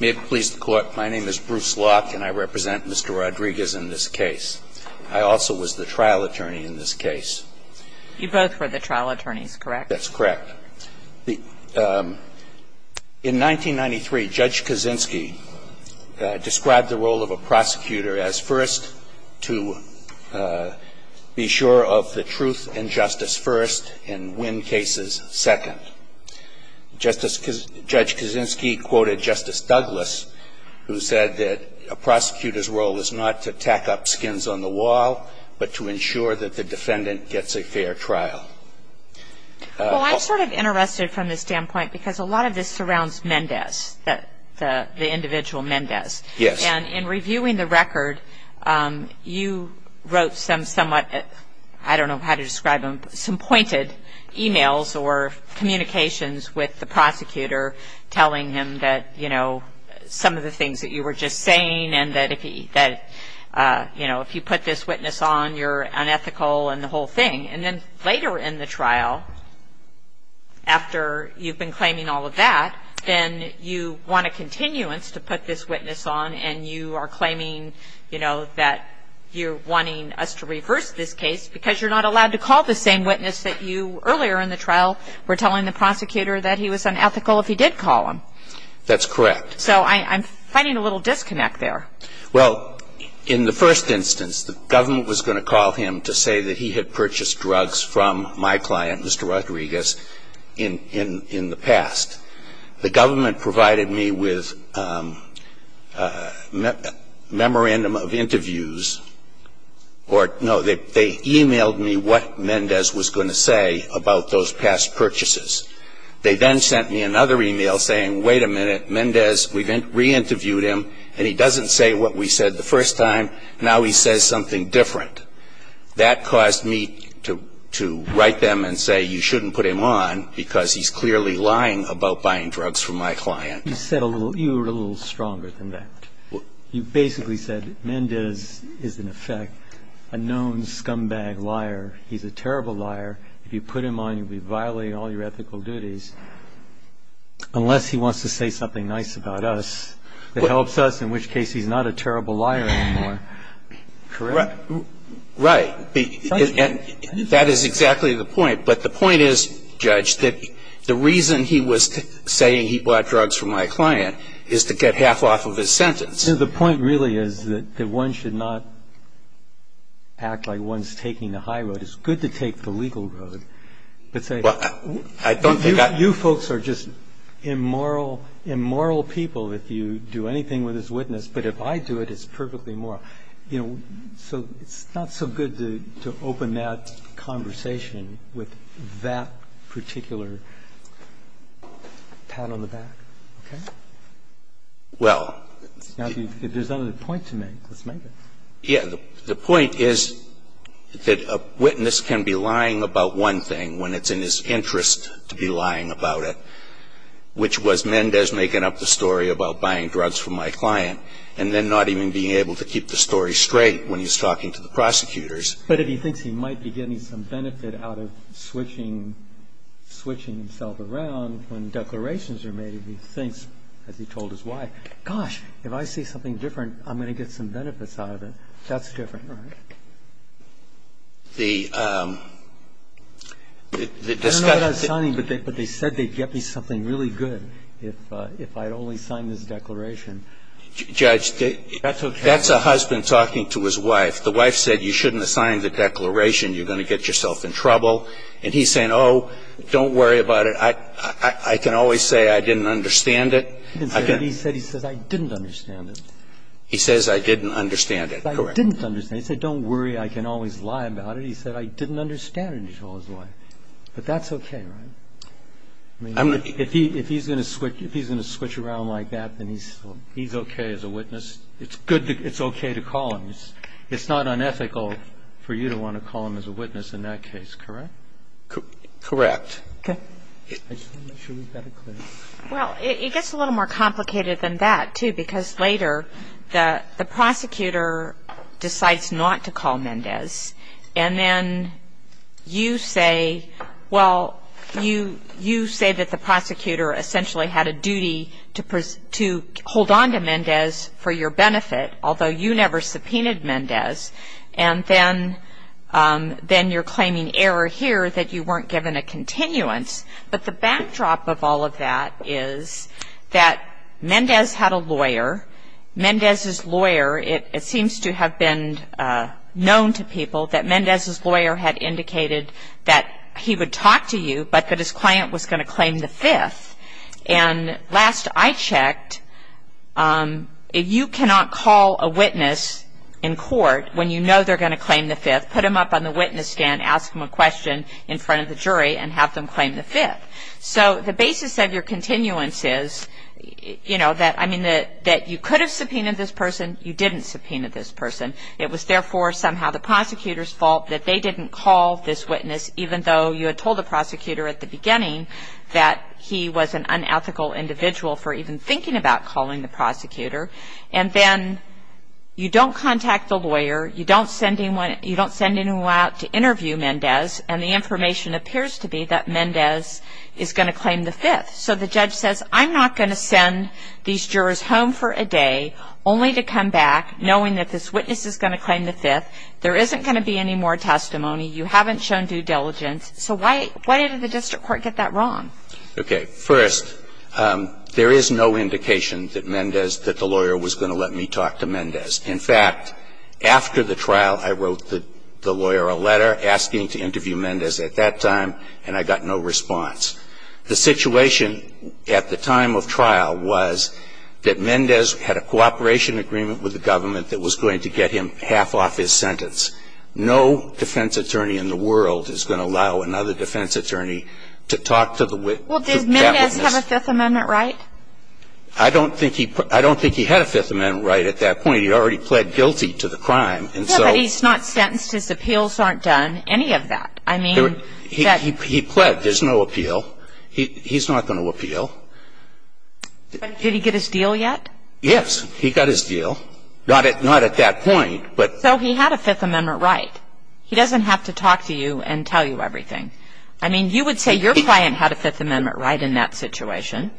May it please the Court, my name is Bruce Locke, and I represent Mr. Rodriguez in this case. I also was the trial attorney in this case. You both were the trial attorneys, correct? That's correct. In 1993, Judge Kaczynski described the role of a prosecutor as first to be sure of the truth and justice first and win cases second. Judge Kaczynski quoted Justice Douglas, who said that a prosecutor's role is not to tack up skins on the wall, but to ensure that the defendant gets a fair trial. Well, I'm sort of interested from this standpoint, because a lot of this surrounds Mendez, the individual Mendez. And in reviewing the record, you wrote some somewhat, I don't know how to describe them, some pointed emails or communications with the prosecutor, telling him that, you know, some of the things that you were just saying and that, you know, if you put this witness on, you're unethical and the whole thing. And then later in the trial, after you've been claiming all of that, then you want a continuance to put this witness on and you are claiming, you know, that you're wanting us to reverse this case because you're not allowed to call the same witness that you earlier in the trial were telling the prosecutor that he was unethical if he did call him. That's correct. So I'm finding a little disconnect there. Well, in the first instance, the government was going to call him to say that he had purchased drugs from my client, Mr. Rodriguez, in the past. The government provided me with a memorandum of interviews, or no, they emailed me what Mendez was going to say about those past purchases. They then sent me another email saying, wait a minute, Mendez, we re-interviewed him and he doesn't say what we said the first time. Now he says something different. That caused me to write them and say you shouldn't put him on because he's clearly lying about buying drugs from my client. You said a little, you were a little stronger than that. You basically said Mendez is, in effect, a known scumbag liar. He's a terrible liar. If you put him on, you'd be violating all your ethical duties unless he wants to say something nice about us that helps us, in which case he's not a terrible liar anymore. Correct? Right. That is exactly the point. But the point is, Judge, that the reason he was saying he bought drugs from my client is to get half off of his sentence. No, the point really is that one should not act like one's taking the high road. It's good to take the legal road, but say, you folks are just immoral, immoral people if you do anything with this witness, but if I do it, it's perfectly moral. You know, so it's not so good to open that conversation with that particular pat on the back. Okay? Well. There's another point to make. Let's make it. Yeah, the point is that a witness can be lying about one thing when it's in his interest to be lying about it, which was Mendez making up the story about buying drugs from my client and then not even being able to keep the story straight when he's talking to the prosecutors. But if he thinks he might be getting some benefit out of switching himself around when declarations are made, if he thinks, as he told his wife, gosh, if I see something different, I'm going to get some benefits out of it, that's different, right? The discussion of signing, but they said they'd get me something really good if I'd only sign this declaration. Judge, that's a husband talking to his wife. The wife said, you shouldn't assign the declaration, you're going to get yourself in trouble, and he's saying, oh, don't worry about it, I can always say I didn't understand it. He said, he says, I didn't understand it. He says, I didn't understand it. I didn't understand it. He said, don't worry, I can always lie about it. He said, I didn't understand it, he told his wife. But that's okay, right? I mean, if he's going to switch around like that, then he's okay as a witness. It's good, it's okay to call him. It's not unethical for you to want to call him as a witness in that case, correct? Correct. Okay. I just want to make sure we've got it clear. Well, it gets a little more complicated than that, too, because later, the prosecutor decides not to call Mendez, and then you say, well, you say that the prosecutor essentially had a duty to hold on to Mendez for your benefit, although you never subpoenaed Mendez, and then you're claiming error here that you weren't given a continuance. But the backdrop of all of that is that Mendez had a lawyer. Mendez's lawyer, it seems to have been known to people that Mendez's lawyer had indicated that he would talk to you, but that his client was going to claim the fifth. And last I checked, you cannot call a witness in court when you know they're going to claim the fifth, put them up on the witness stand, ask them a question in front of the jury, and have them claim the fifth. So the basis of your continuance is that you could have subpoenaed this person, you didn't subpoena this person. It was, therefore, somehow the prosecutor's fault that they didn't call this witness, even though you had told the prosecutor at the beginning that he was an unethical individual for even thinking about calling the prosecutor. And then you don't contact the lawyer, you don't send anyone out to interview Mendez, and the information appears to be that Mendez is going to claim the fifth. So the judge says, I'm not going to send these jurors home for a day only to come back knowing that this witness is going to claim the fifth. There isn't going to be any more testimony. You haven't shown due diligence. So why did the district court get that wrong? Okay, first, there is no indication that Mendez, that the lawyer was going to let me talk to Mendez. In fact, after the trial, I wrote the lawyer a letter asking to interview Mendez at that time, and I got no response. The situation at the time of trial was that Mendez had a cooperation agreement with the government that was going to get him half off his sentence. No defense attorney in the world is going to allow another defense attorney to talk to the witness. Well, did Mendez have a Fifth Amendment right? I don't think he had a Fifth Amendment right at that point. He already pled guilty to the crime. No, but he's not sentenced, his appeals aren't done, any of that. I mean, he pled, there's no appeal. He's not going to appeal. Did he get his deal yet? Yes, he got his deal. Not at that point, but. So he had a Fifth Amendment right. He doesn't have to talk to you and tell you everything. I mean, you would say your client had a Fifth Amendment right in that situation.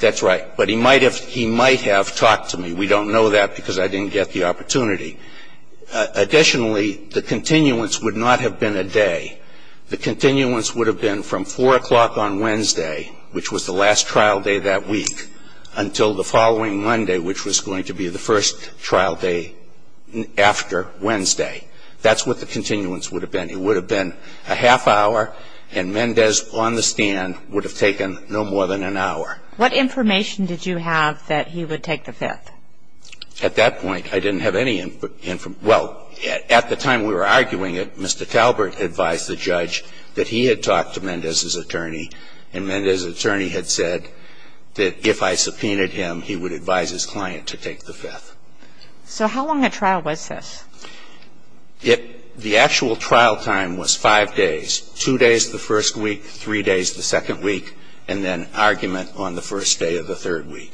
That's right, but he might have talked to me. We don't know that because I didn't get the opportunity. Additionally, the continuance would not have been a day. The continuance would have been from 4 o'clock on Wednesday, which was the last trial day that week, until the following Monday, which was going to be the first trial day after Wednesday. That's what the continuance would have been. It would have been a half hour, and Mendez on the stand would have taken no more than an hour. What information did you have that he would take the Fifth? At that point, I didn't have any information. Well, at the time we were arguing it, Mr. Talbert advised the judge that he had talked to Mendez's attorney. And Mendez's attorney had said that if I subpoenaed him, he would advise his client to take the Fifth. So how long a trial was this? The actual trial time was five days. Two days the first week, three days the second week, and then argument on the first day of the third week.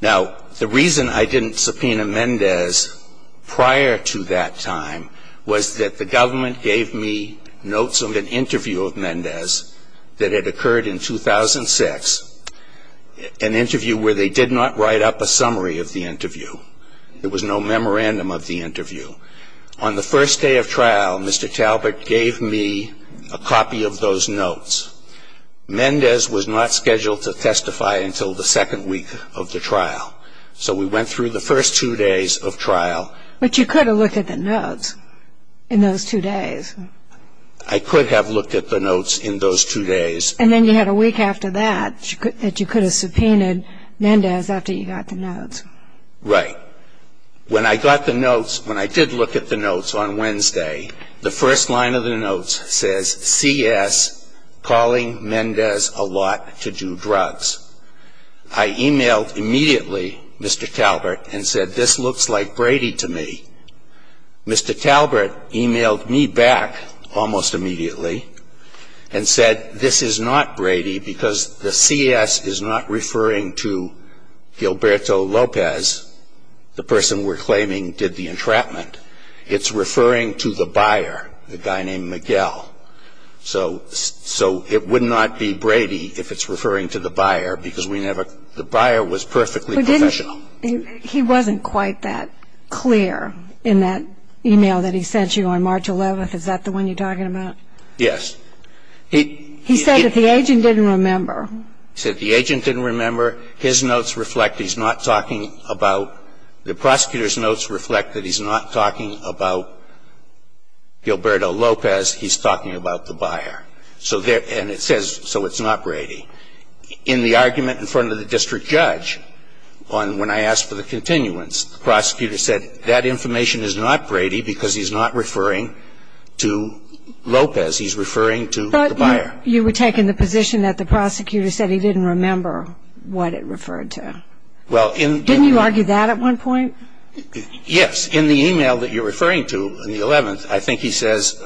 Now, the reason I didn't subpoena Mendez prior to that time was that the government gave me notes of an interview of Mendez that had occurred in 2006. An interview where they did not write up a summary of the interview. There was no memorandum of the interview. On the first day of trial, Mr. Talbert gave me a copy of those notes. Mendez was not scheduled to testify until the second week of the trial. So we went through the first two days of trial. But you could have looked at the notes in those two days. I could have looked at the notes in those two days. And then you had a week after that that you could have subpoenaed Mendez after you got the notes. Right. When I got the notes, when I did look at the notes on Wednesday, the first line of the notes says, CS calling Mendez a lot to do drugs. I emailed immediately Mr. Talbert and said, this looks like Brady to me. Mr. Talbert emailed me back almost immediately and said, this is not Brady because the CS is not referring to Gilberto Lopez, the person we're claiming did the entrapment. It's referring to the buyer, the guy named Miguel. So it would not be Brady if it's referring to the buyer because we never, the buyer was perfectly professional. He wasn't quite that clear in that email that he sent you on March 11th. Is that the one you're talking about? Yes. He said that the agent didn't remember. He said the agent didn't remember. His notes reflect he's not talking about, the prosecutor's notes reflect that he's not talking about Gilberto Lopez. He's talking about the buyer. So there, and it says, so it's not Brady. In the argument in front of the district judge, on when I asked for the continuance, the prosecutor said that information is not Brady because he's not referring to Lopez, he's referring to the buyer. You were taking the position that the prosecutor said he didn't remember what it referred to. Well, in- Didn't you argue that at one point? Yes, in the email that you're referring to, on the 11th, I think he says,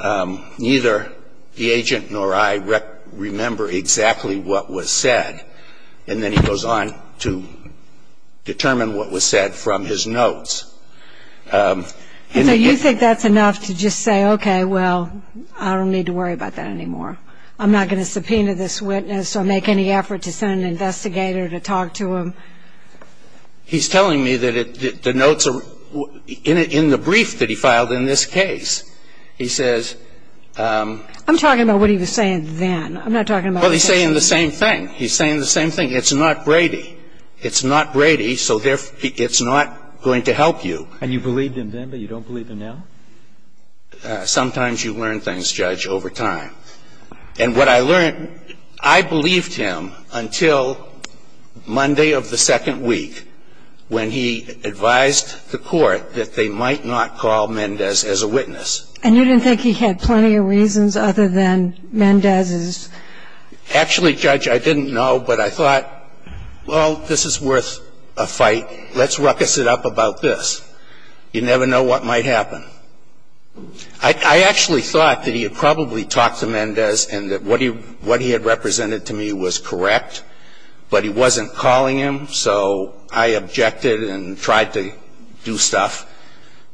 neither the agent nor I remember exactly what was said. And then he goes on to determine what was said from his notes. And so you think that's enough to just say, okay, well, I don't need to worry about that anymore. I'm not going to subpoena this witness or make any effort to send an investigator to talk to him? He's telling me that the notes are in the brief that he filed in this case. He says- I'm talking about what he was saying then. I'm not talking about- Well, he's saying the same thing. He's saying the same thing. It's not Brady. It's not Brady, so it's not going to help you. And you believed him then, but you don't believe him now? Sometimes you learn things, Judge, over time. And what I learned, I believed him until Monday of the second week, when he advised the court that they might not call Mendez as a witness. And you didn't think he had plenty of reasons other than Mendez's- Actually, Judge, I didn't know, but I thought, well, this is worth a fight. Let's ruckus it up about this. You never know what might happen. I actually thought that he had probably talked to Mendez and that what he had represented to me was correct. But he wasn't calling him, so I objected and tried to do stuff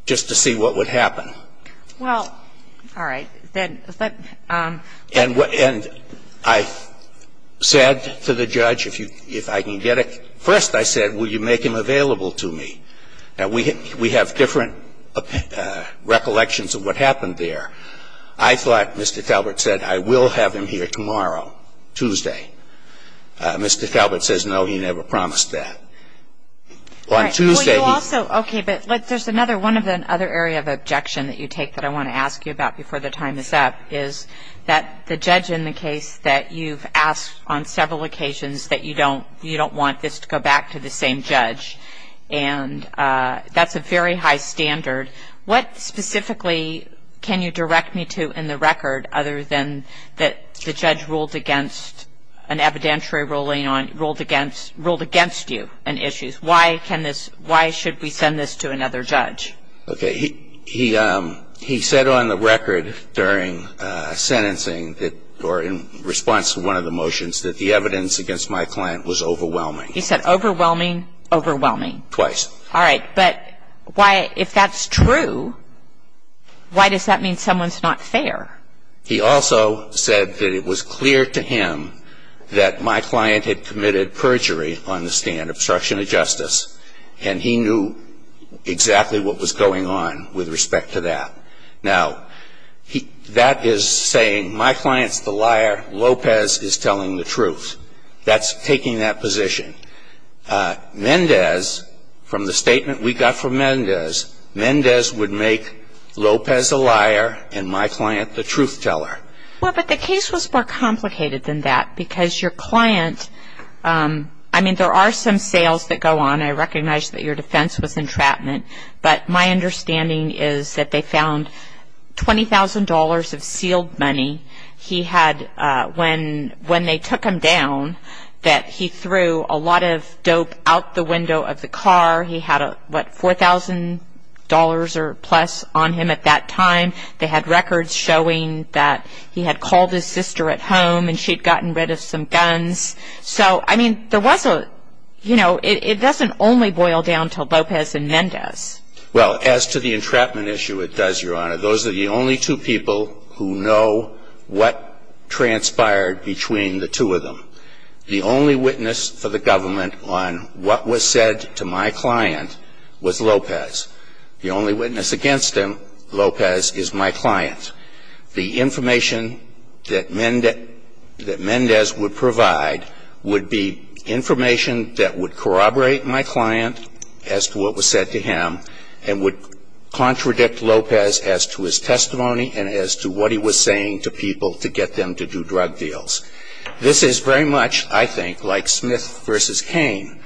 just to see what would happen. Well, all right. And I said to the judge, if I can get it. First, I said, will you make him available to me? Now, we have different recollections of what happened there. I thought, Mr. Talbert said, I will have him here tomorrow, Tuesday. Mr. Talbert says, no, he never promised that. On Tuesday- Okay, but there's another, one of the other area of objection that you take that I want to ask you about before the time is up is that the judge in the case that you've asked on several occasions that you don't want this to go back to the same judge. And that's a very high standard. What specifically can you direct me to in the record other than that the judge ruled against an evidentiary ruling on, ruled against you on issues? Why can this, why should we send this to another judge? Okay, he said on the record during sentencing that, or in response to one of the motions, that the evidence against my client was overwhelming. He said overwhelming, overwhelming. Twice. All right, but why, if that's true, why does that mean someone's not fair? He also said that it was clear to him that my client had committed perjury on the stand, obstruction of justice, and he knew exactly what was going on with respect to that. Now, he, that is saying my client's the liar, Lopez is telling the truth. That's taking that position. Mendez, from the statement we got from Mendez, Mendez would make Lopez a liar and my client the truth teller. Well, but the case was more complicated than that because your client, I mean, there are some sales that go on, I recognize that your defense was entrapment. But my understanding is that they found $20,000 of sealed money. He had, when they took him down, that he threw a lot of dope out the window of the car. He had, what, $4,000 or plus on him at that time. They had records showing that he had called his sister at home and she'd gotten rid of some guns. So, I mean, there was a, you know, it doesn't only boil down to Lopez and Mendez. Well, as to the entrapment issue, it does, Your Honor. Those are the only two people who know what transpired between the two of them. The only witness for the government on what was said to my client was Lopez. The only witness against him, Lopez, is my client. The information that Mendez would provide would be information that would corroborate my client as to what was said to him and would contradict Lopez as to his testimony and as to what he was saying to people to get them to do drug deals. This is very much, I think, like Smith versus Kane,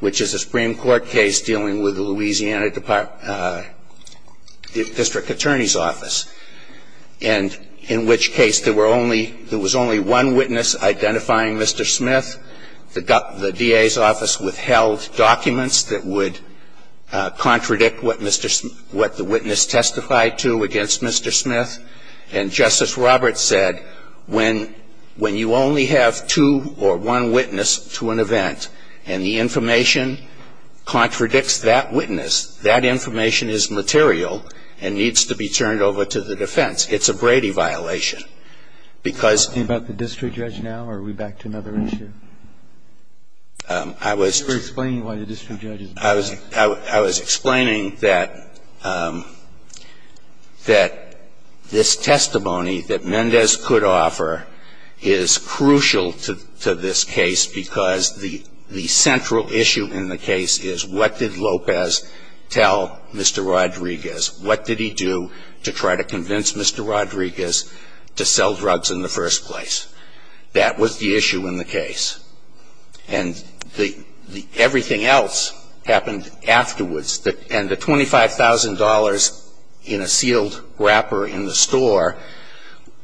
which is a Supreme Court case dealing with the Louisiana District Attorney's office. And in which case there was only one witness identifying Mr. Smith. The DA's office withheld documents that would what the witness testified to against Mr. Smith. And Justice Roberts said, when you only have two or one witness to an event and the information contradicts that witness, that information is material and needs to be turned over to the defense. It's a Brady violation. Because- Are we talking about the district judge now or are we back to another issue? I was- You were explaining why the district judge is- I was explaining that this testimony that Mendez could offer is crucial to this case because the central issue in the case is what did Lopez tell Mr. Rodriguez? What did he do to try to convince Mr. Rodriguez to sell drugs in the first place? That was the issue in the case. And everything else happened afterwards. And the $25,000 in a sealed wrapper in the store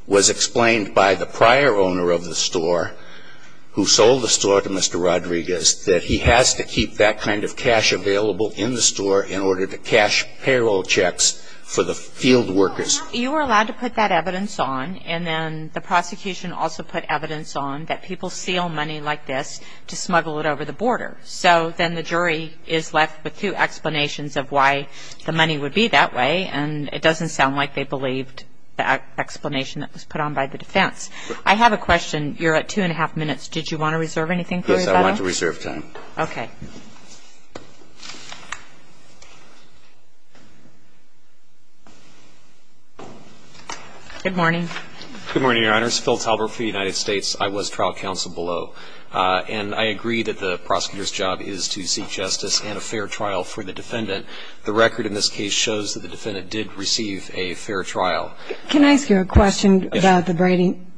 was explained by the prior owner of the store, who sold the store to Mr. Rodriguez, that he has to keep that kind of cash available in the store in order to cash payroll checks for the field workers. You were allowed to put that evidence on, and then the prosecution also put evidence on, that people seal money like this to smuggle it over the border. So then the jury is left with two explanations of why the money would be that way. And it doesn't sound like they believed the explanation that was put on by the defense. I have a question. You're at two and a half minutes. Did you want to reserve anything for your battle? Yes, I wanted to reserve time. Okay. Good morning. Good morning, Your Honors. Phil Talbert for the United States. I was trial counsel below. And I agree that the prosecutor's job is to seek justice and a fair trial for the defendant. The record in this case shows that the defendant did receive a fair trial. Can I ask you a question about the braiding?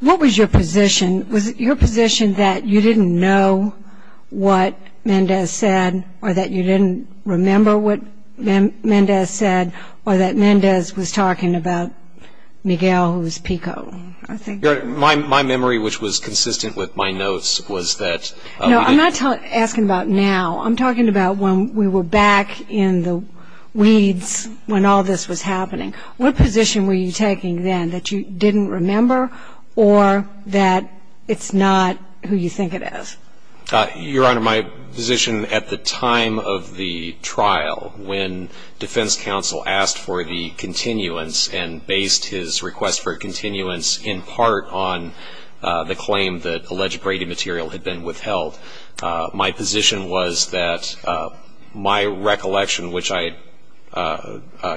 What was your position? Was it your position that you didn't know what Mendez said, or that you didn't remember what Mendez said, or that Mendez was talking about Miguel, who was Pico, I think? My memory, which was consistent with my notes, was that he had been No, I'm not asking about now. I'm talking about when we were back in the weeds when all this was happening. What position were you taking then, that you didn't remember, or that it's not who you think it is? Your Honor, my position at the time of the trial, when defense counsel asked for the continuance and based his request for continuance in part on the claim that alleged braiding material had been withheld, my position was that my recollection, which I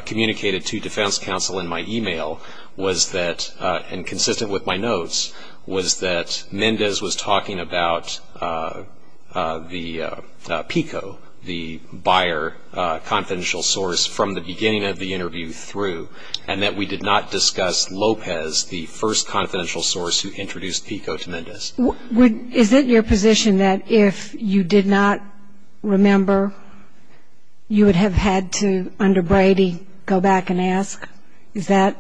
communicated to defense counsel in my email, was that, and consistent with my notes, was that Mendez was talking about the Pico, the buyer, confidential source, from the beginning of the interview through, and that we did not discuss Lopez, the first confidential source who introduced Pico to Mendez. Is it your position that if you did not remember, you would have had to, under Brady, go back and ask? Is that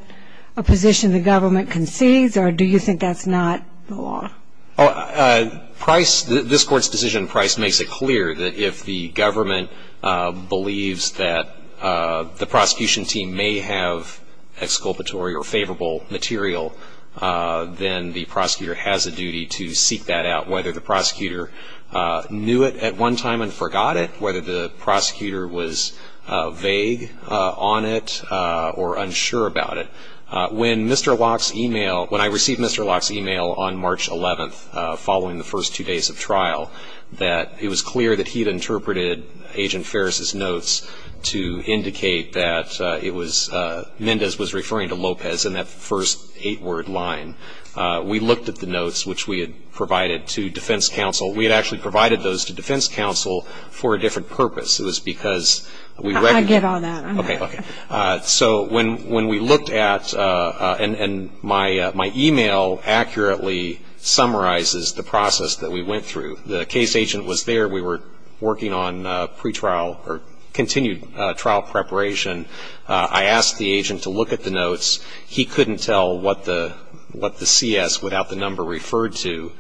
a position the government concedes, or do you think that's not the law? This Court's decision in Price makes it clear that if the government believes that the prosecution team may have exculpatory or favorable material, then the prosecutor has a duty to seek that out. Whether the prosecutor knew it at one time and forgot it, whether the prosecutor was vague on it or unsure about it. When I received Mr. Locke's email on March 11th, following the first two days of trial, that it was clear that he had interpreted Agent Ferris' notes to indicate that Mendez was referring to Lopez in that first eight-word line. We looked at the notes which we had provided to defense counsel. We had actually provided those to defense counsel for a different purpose. It was because we- I get all that. Okay, okay. So when we looked at, and my email accurately summarizes the process that we went through. The case agent was there. We were working on pre-trial or continued trial preparation. I asked the agent to look at the notes. He couldn't tell what the CS without the number referred to.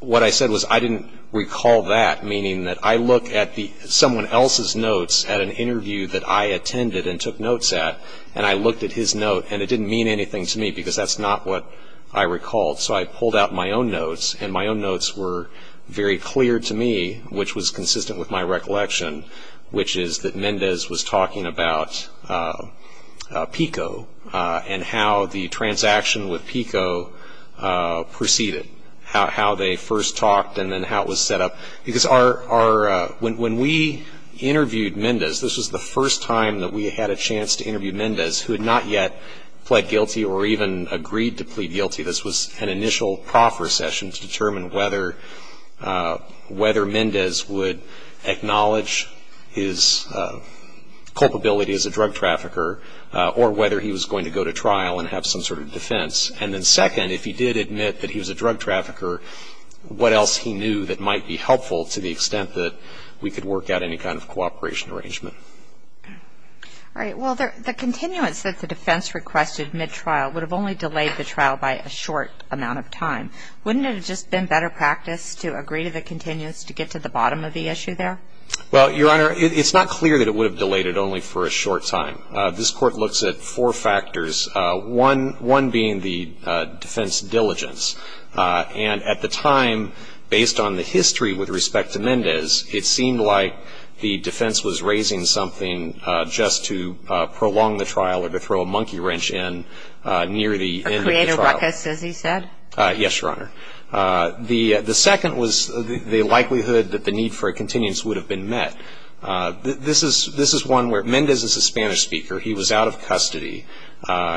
What I said was I didn't recall that, meaning that I look at someone else's notes at an interview that I attended and took notes at, and I looked at his note. And it didn't mean anything to me, because that's not what I recalled. So I pulled out my own notes, and my own notes were very clear to me, which was consistent with my recollection. Which is that Mendez was talking about PICO, and how the transaction with PICO proceeded. How they first talked, and then how it was set up. Because our, when we interviewed Mendez, this was the first time that we had a chance to interview Mendez, who had not yet pled guilty or even agreed to plead guilty. This was an initial proffer session to determine whether Mendez would acknowledge his culpability as a drug trafficker, or whether he was going to go to trial and have some sort of defense. And then second, if he did admit that he was a drug trafficker, what else he knew that might be helpful to the extent that we could work out any kind of cooperation arrangement. All right, well, the continuance that the defense requested mid-trial would have only delayed the trial by a short amount of time. Wouldn't it have just been better practice to agree to the continuance to get to the bottom of the issue there? Well, Your Honor, it's not clear that it would have delayed it only for a short time. This court looks at four factors, one being the defense diligence. And at the time, based on the history with respect to Mendez, it seemed like the defense was raising something just to prolong the trial or to throw a monkey wrench in near the end of the trial. A creative ruckus, as he said? Yes, Your Honor. The second was the likelihood that the need for a continuance would have been met. This is one where, Mendez is a Spanish speaker, he was out of custody.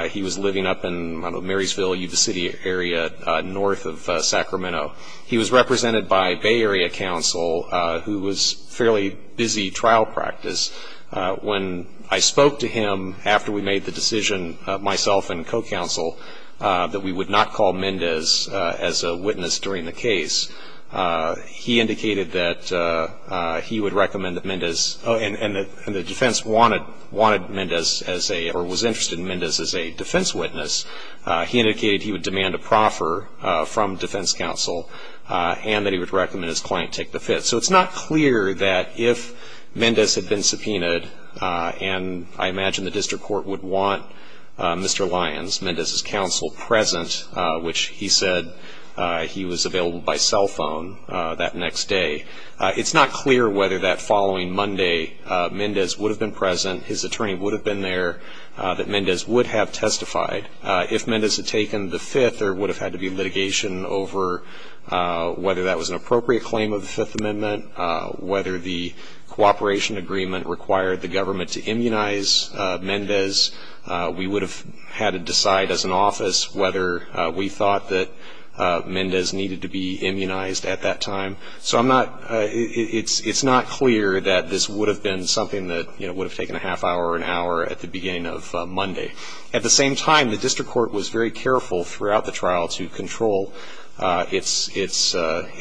He was living up in Marysville, Yuba City area, north of Sacramento. He was represented by Bay Area counsel, who was fairly busy trial practice. When I spoke to him after we made the decision, myself and co-counsel, that we would not call Mendez as a witness during the case. He indicated that he would recommend that Mendez, and the defense wanted Mendez as a, or was interested in Mendez as a defense witness. He indicated he would demand a proffer from defense counsel, and that he would recommend his client take the fit. So it's not clear that if Mendez had been subpoenaed, and I imagine the district court would want Mr. Lyons, Mendez's counsel, present. Which he said he was available by cell phone that next day. It's not clear whether that following Monday, Mendez would have been present, his attorney would have been there, that Mendez would have testified. If Mendez had taken the fifth, there would have had to be litigation over whether that was an appropriate claim of the Fifth Amendment, whether the cooperation agreement required the government to immunize Mendez. We would have had to decide as an office whether we thought that Mendez needed to be immunized at that time. So I'm not, it's not clear that this would have been something that would have taken a half hour or an hour at the beginning of Monday. At the same time, the district court was very careful throughout the trial to control its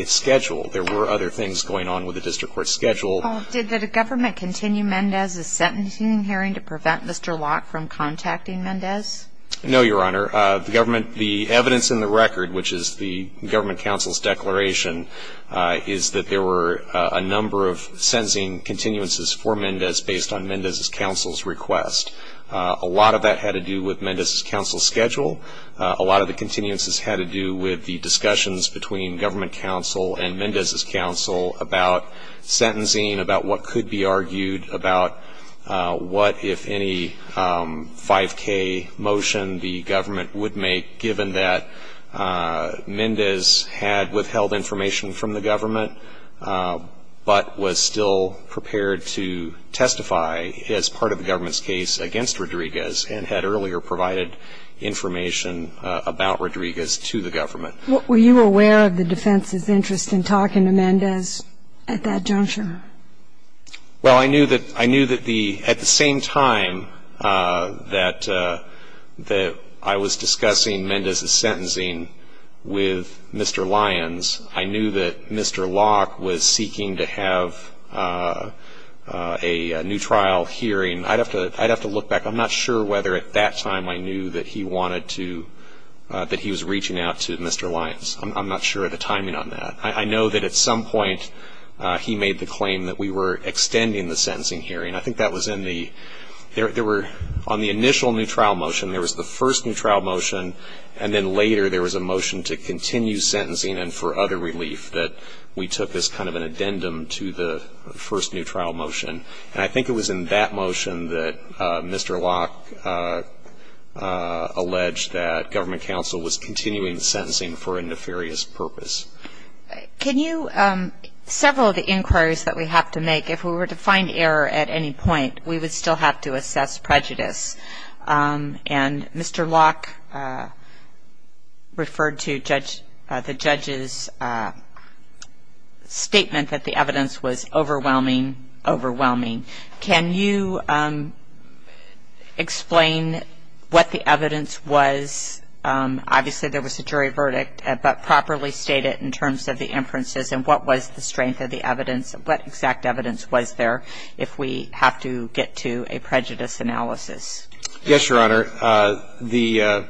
schedule. There were other things going on with the district court schedule. Did the government continue Mendez's sentencing hearing to prevent Mr. Locke from contacting Mendez? No, Your Honor. The government, the evidence in the record, which is the government counsel's declaration, is that there were a number of sentencing continuances for Mendez based on Mendez's counsel's request. A lot of that had to do with Mendez's counsel's schedule. A lot of the continuances had to do with the discussions between government counsel and Mendez's counsel about sentencing, about what could be argued, about what, if any, 5K motion the government would make, given that Mendez had withheld information from the government, but was still prepared to testify as part of the government's case against Rodriguez, and had earlier provided information about Rodriguez to the government. Were you aware of the defense's interest in talking to Mendez at that juncture? Well, I knew that the, at the same time that I was discussing Mendez's sentencing with Mr. Lyons, I knew that Mr. Locke was seeking to have a new trial hearing. I'd have to look back. I'm not sure whether at that time I knew that he wanted to, that he was reaching out to Mr. Lyons. I'm not sure of the timing on that. I know that at some point he made the claim that we were extending the sentencing hearing. I think that was in the, there were, on the initial new trial motion, there was the first new trial motion, and then later there was a motion to continue sentencing and for other relief that we took as kind of an addendum to the first new trial motion. And I think it was in that motion that Mr. Locke alleged that government counsel was continuing the sentencing for a nefarious purpose. Can you, several of the inquiries that we have to make, if we were to find error at any point, we would still have to assess prejudice. And Mr. Locke referred to judge, the judge's statement that the evidence was overwhelming, overwhelming. Can you explain what the evidence was? Obviously there was a jury verdict, but properly state it in terms of the inferences and what was the strength of the evidence was there if we have to get to a prejudice analysis. Yes, Your Honor. The,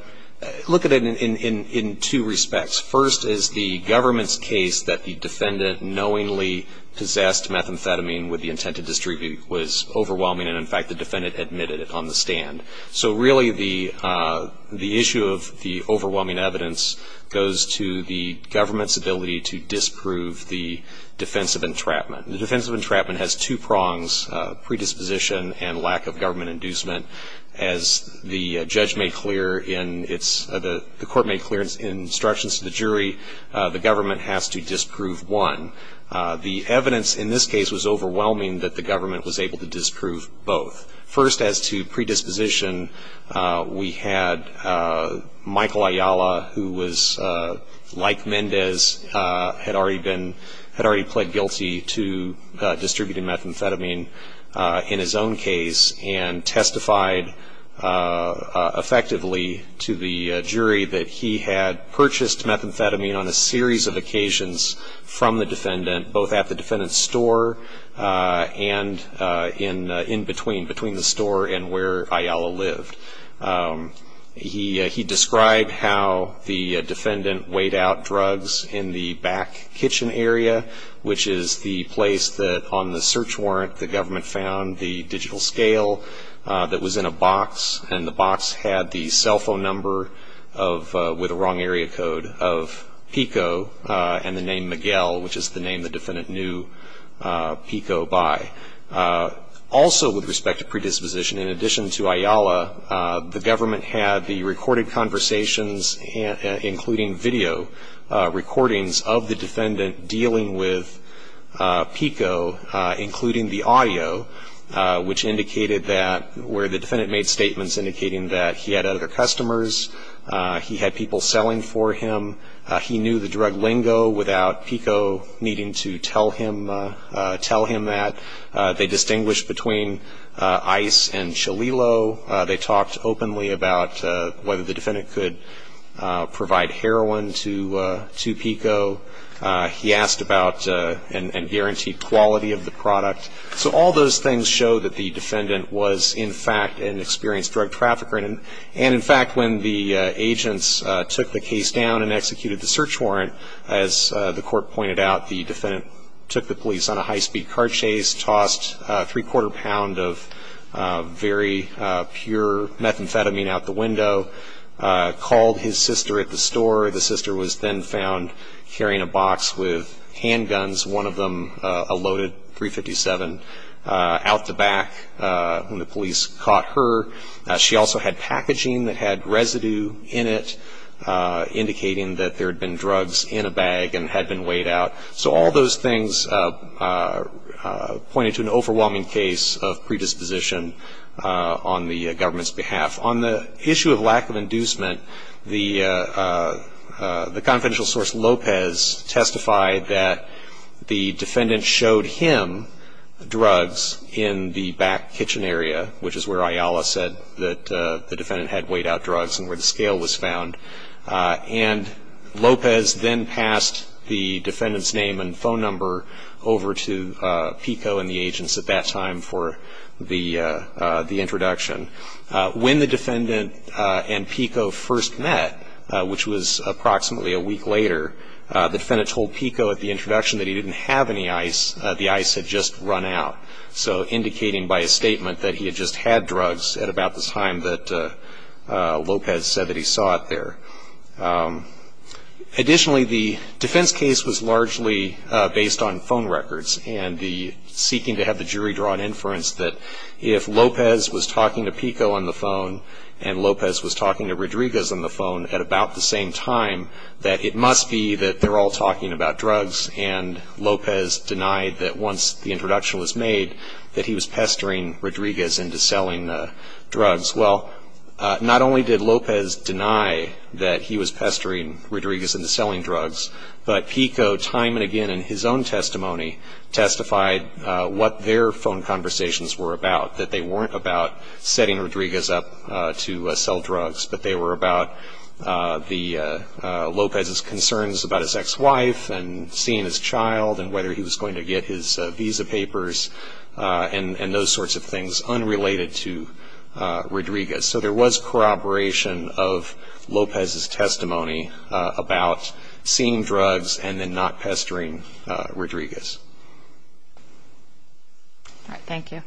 look at it in, in, in two respects. First is the government's case that the defendant knowingly possessed methamphetamine with the intent to distribute was overwhelming. And in fact, the defendant admitted it on the stand. So really the the issue of the overwhelming evidence goes to the government's ability to disprove the defensive entrapment. The defensive entrapment has two prongs predisposition and lack of government inducement. As the judge made clear in its, the court made clear in instructions to the jury, the government has to disprove one. The evidence in this case was overwhelming that the government was able to disprove both. First as to predisposition we had Michael Ayala who was like Mendez had already been, had already pled guilty to distributing methamphetamine in his own case and testified effectively to the jury that he had purchased methamphetamine on a series of occasions from the defendant, both at the defendant's store and in, in between, between the store and where Ayala lived. He, he described how the defendant weighed out drugs in the back kitchen area, which is the place that on the search warrant the government found the digital scale that was in a box and the box had the cell phone number of with a wrong area code of Pico and the name Miguel, which is the name the defendant knew Pico by. Also with respect to predisposition in addition to Ayala, the government had the recorded conversations including video recordings of the defendant dealing with Pico, including the audio, which indicated that where the defendant made statements indicating that he had other customers, he had people selling for him, he knew the drug lingo without Pico needing to tell him, tell him that. They distinguished between ice and Cholilo. They talked openly about whether the defendant could provide heroin to, to Pico. He asked about and, and guaranteed quality of the product. So all those things show that the defendant was in fact an experienced drug trafficker and, and in fact when the agents took the case down and the court pointed out the defendant took the police on a high speed car chase, tossed three quarter pound of very pure methamphetamine out the window, called his sister at the store. The sister was then found carrying a box with handguns, one of them a loaded .357 out the back when the police caught her. She also had packaging that had residue in it indicating that there had been drugs in a bag and had been weighed out. So all those things pointed to an overwhelming case of predisposition on the government's behalf. On the issue of lack of inducement, the the confidential source Lopez testified that the defendant showed him drugs in the back kitchen area, which is where Ayala said that the defendant had weighed out drugs and where the scale was found. And Lopez then passed the defendant's name and phone number over to Pico and the agents at that time for the the introduction. When the defendant and Pico first met, which was approximately a week later, the defendant told Pico at the introduction that he didn't have any ice. The ice had just run out. So indicating by a statement that he had just had drugs at about the time that he was there. Additionally, the defense case was largely based on phone records and the seeking to have the jury draw an inference that if Lopez was talking to Pico on the phone and Lopez was talking to Rodriguez on the phone at about the same time, that it must be that they're all talking about drugs. And Lopez denied that once the introduction was made, that he was pestering Rodriguez into selling the drugs. Well, not only did Lopez deny that he was pestering Rodriguez into selling drugs, but Pico, time and again in his own testimony, testified what their phone conversations were about. That they weren't about setting Rodriguez up to sell drugs, but they were about Lopez's concerns about his ex-wife and seeing his child and whether he was going to get his visa papers and those sorts of things unrelated to Rodriguez. So there was corroboration of Lopez's testimony about seeing drugs and then not pestering Rodriguez. All right, thank you.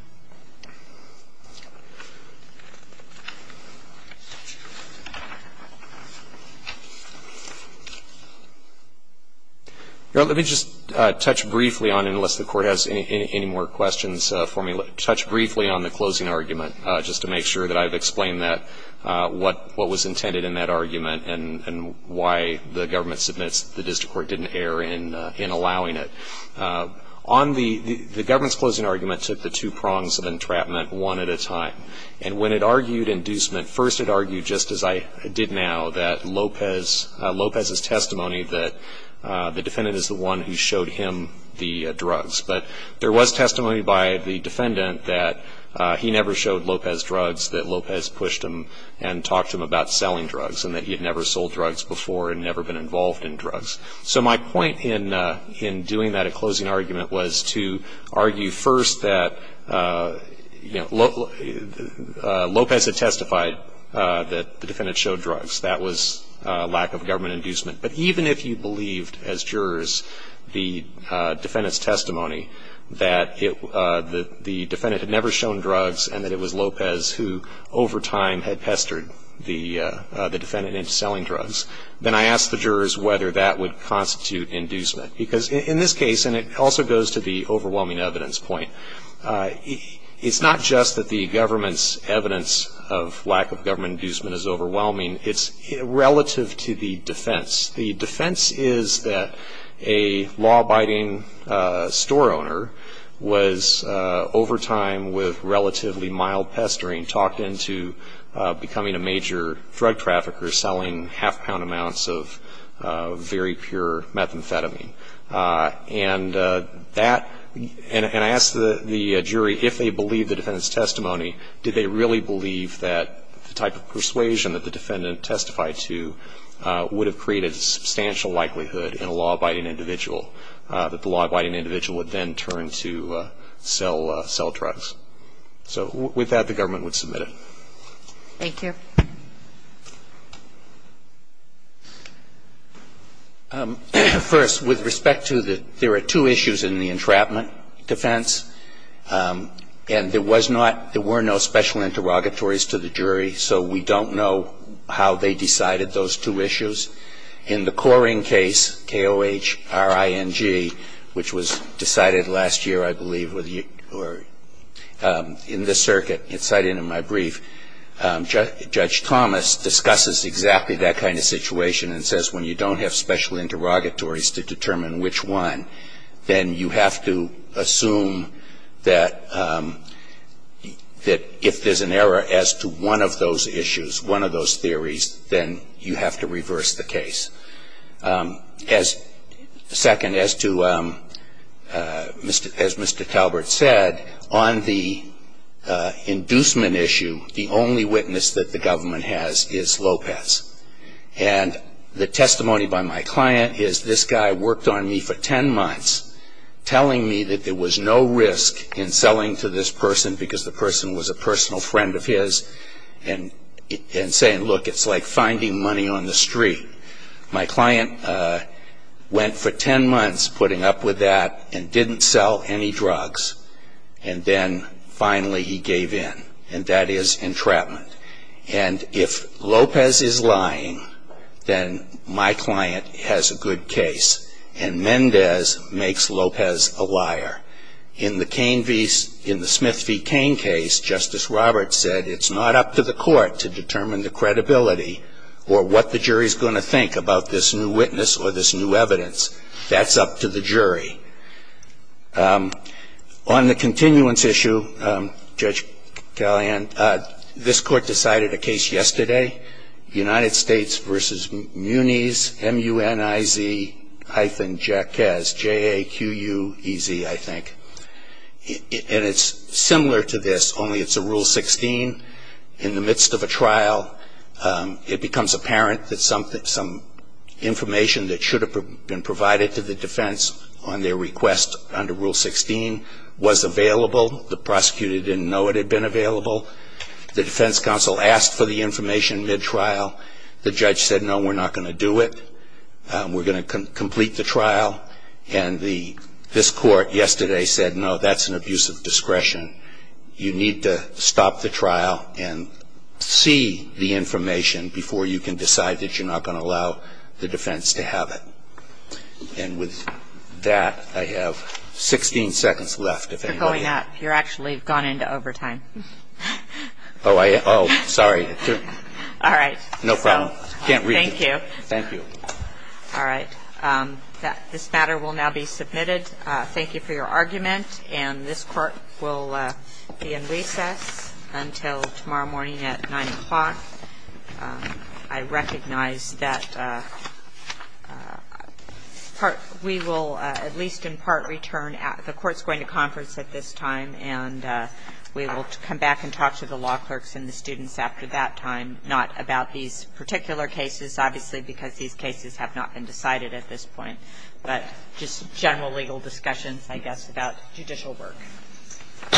Let me just touch briefly on, unless the court has any more questions for me, but touch briefly on the closing argument, just to make sure that I've explained what was intended in that argument and why the government submits the district court didn't err in allowing it. The government's closing argument took the two prongs of entrapment one at a time. And when it argued inducement, first it argued, just as I did now, that Lopez's testimony that the defendant is the one who showed him the drugs. But there was testimony by the defendant that he never showed Lopez drugs, that Lopez pushed him and talked to him about selling drugs, and that he had never sold drugs before and never been involved in drugs. So my point in doing that at closing argument was to argue first that Lopez had testified that the defendant showed drugs. That was lack of government inducement. But even if you believed, as jurors, the defendant's testimony, that the defendant had never shown drugs and that it was Lopez who, over time, had pestered the defendant into selling drugs, then I ask the jurors whether that would constitute inducement. Because in this case, and it also goes to the overwhelming evidence point, it's not just that the government's evidence of lack of government inducement is overwhelming, it's relative to the defense. The defense is that a law-abiding store owner was, over time, with relatively mild pestering, talked into becoming a major drug trafficker, selling half-pound amounts of very pure methamphetamine. And that, and I asked the jury if they believed the defendant's testimony, did they really believe that the type of persuasion that the defendant testified to would have created substantial likelihood in a law-abiding individual, that the law-abiding individual would then turn to sell drugs. So with that, the government would submit it. Thank you. First, with respect to the, there are two issues in the entrapment defense. And there was not, there were no special interrogatories to the jury, so we don't know how they decided those two issues. In the Coring case, K-O-H-R-I-N-G, which was decided last year, I believe, with you, or in this circuit, it's cited in my brief, Judge Thomas discusses exactly that kind of situation and says, when you don't have special interrogatories to determine which one, then you have to assume that if there's an error as to one of those issues, one of those theories, then you have to reverse the case. Second, as to, as Mr. Talbert said, on the inducement issue, the only witness that the government has is Lopez. And the testimony by my client is, this guy worked on me for ten months, telling me that there was no risk in selling to this person because the person was a personal friend of his, and saying, look, it's like finding money on the street. My client went for ten months putting up with that and didn't sell any drugs, and then finally he gave in, and that is entrapment. And if Lopez is lying, then my client has a good case, and Mendez makes Lopez a liar. In the Smith v. Cain case, Justice Roberts said it's not up to the court to determine the credibility or what the jury's gonna think about this new witness or this new evidence, that's up to the jury. On the continuance issue, Judge Callahan, this court decided a case yesterday. United States v. Muniz, M-U-N-I-Z hyphen Jackez, J-A-Q-U-E-Z, I think. And it's similar to this, only it's a rule 16 in the midst of a trial. It becomes apparent that some information that should have been provided to the defense on their request under rule 16 was available. The prosecutor didn't know it had been available. The defense counsel asked for the information mid-trial. The judge said, no, we're not gonna do it. We're gonna complete the trial. And this court yesterday said, no, that's an abuse of discretion. You need to stop the trial and see the information before you can decide that you're not gonna allow the defense to have it. And with that, I have 16 seconds left, if anybody- You're going up. You're actually gone into overtime. Oh, I, oh, sorry. All right. No problem. Can't read. Thank you. Thank you. All right. This matter will now be submitted. Thank you for your argument. And this court will be in recess until tomorrow morning at 9 o'clock. I recognize that we will, at least in part, return. The court's going to conference at this time, and we will come back and talk to the law clerks and the students after that time. Not about these particular cases, obviously because these cases have not been decided at this point. But just general legal discussions, I guess, about judicial work. All rise.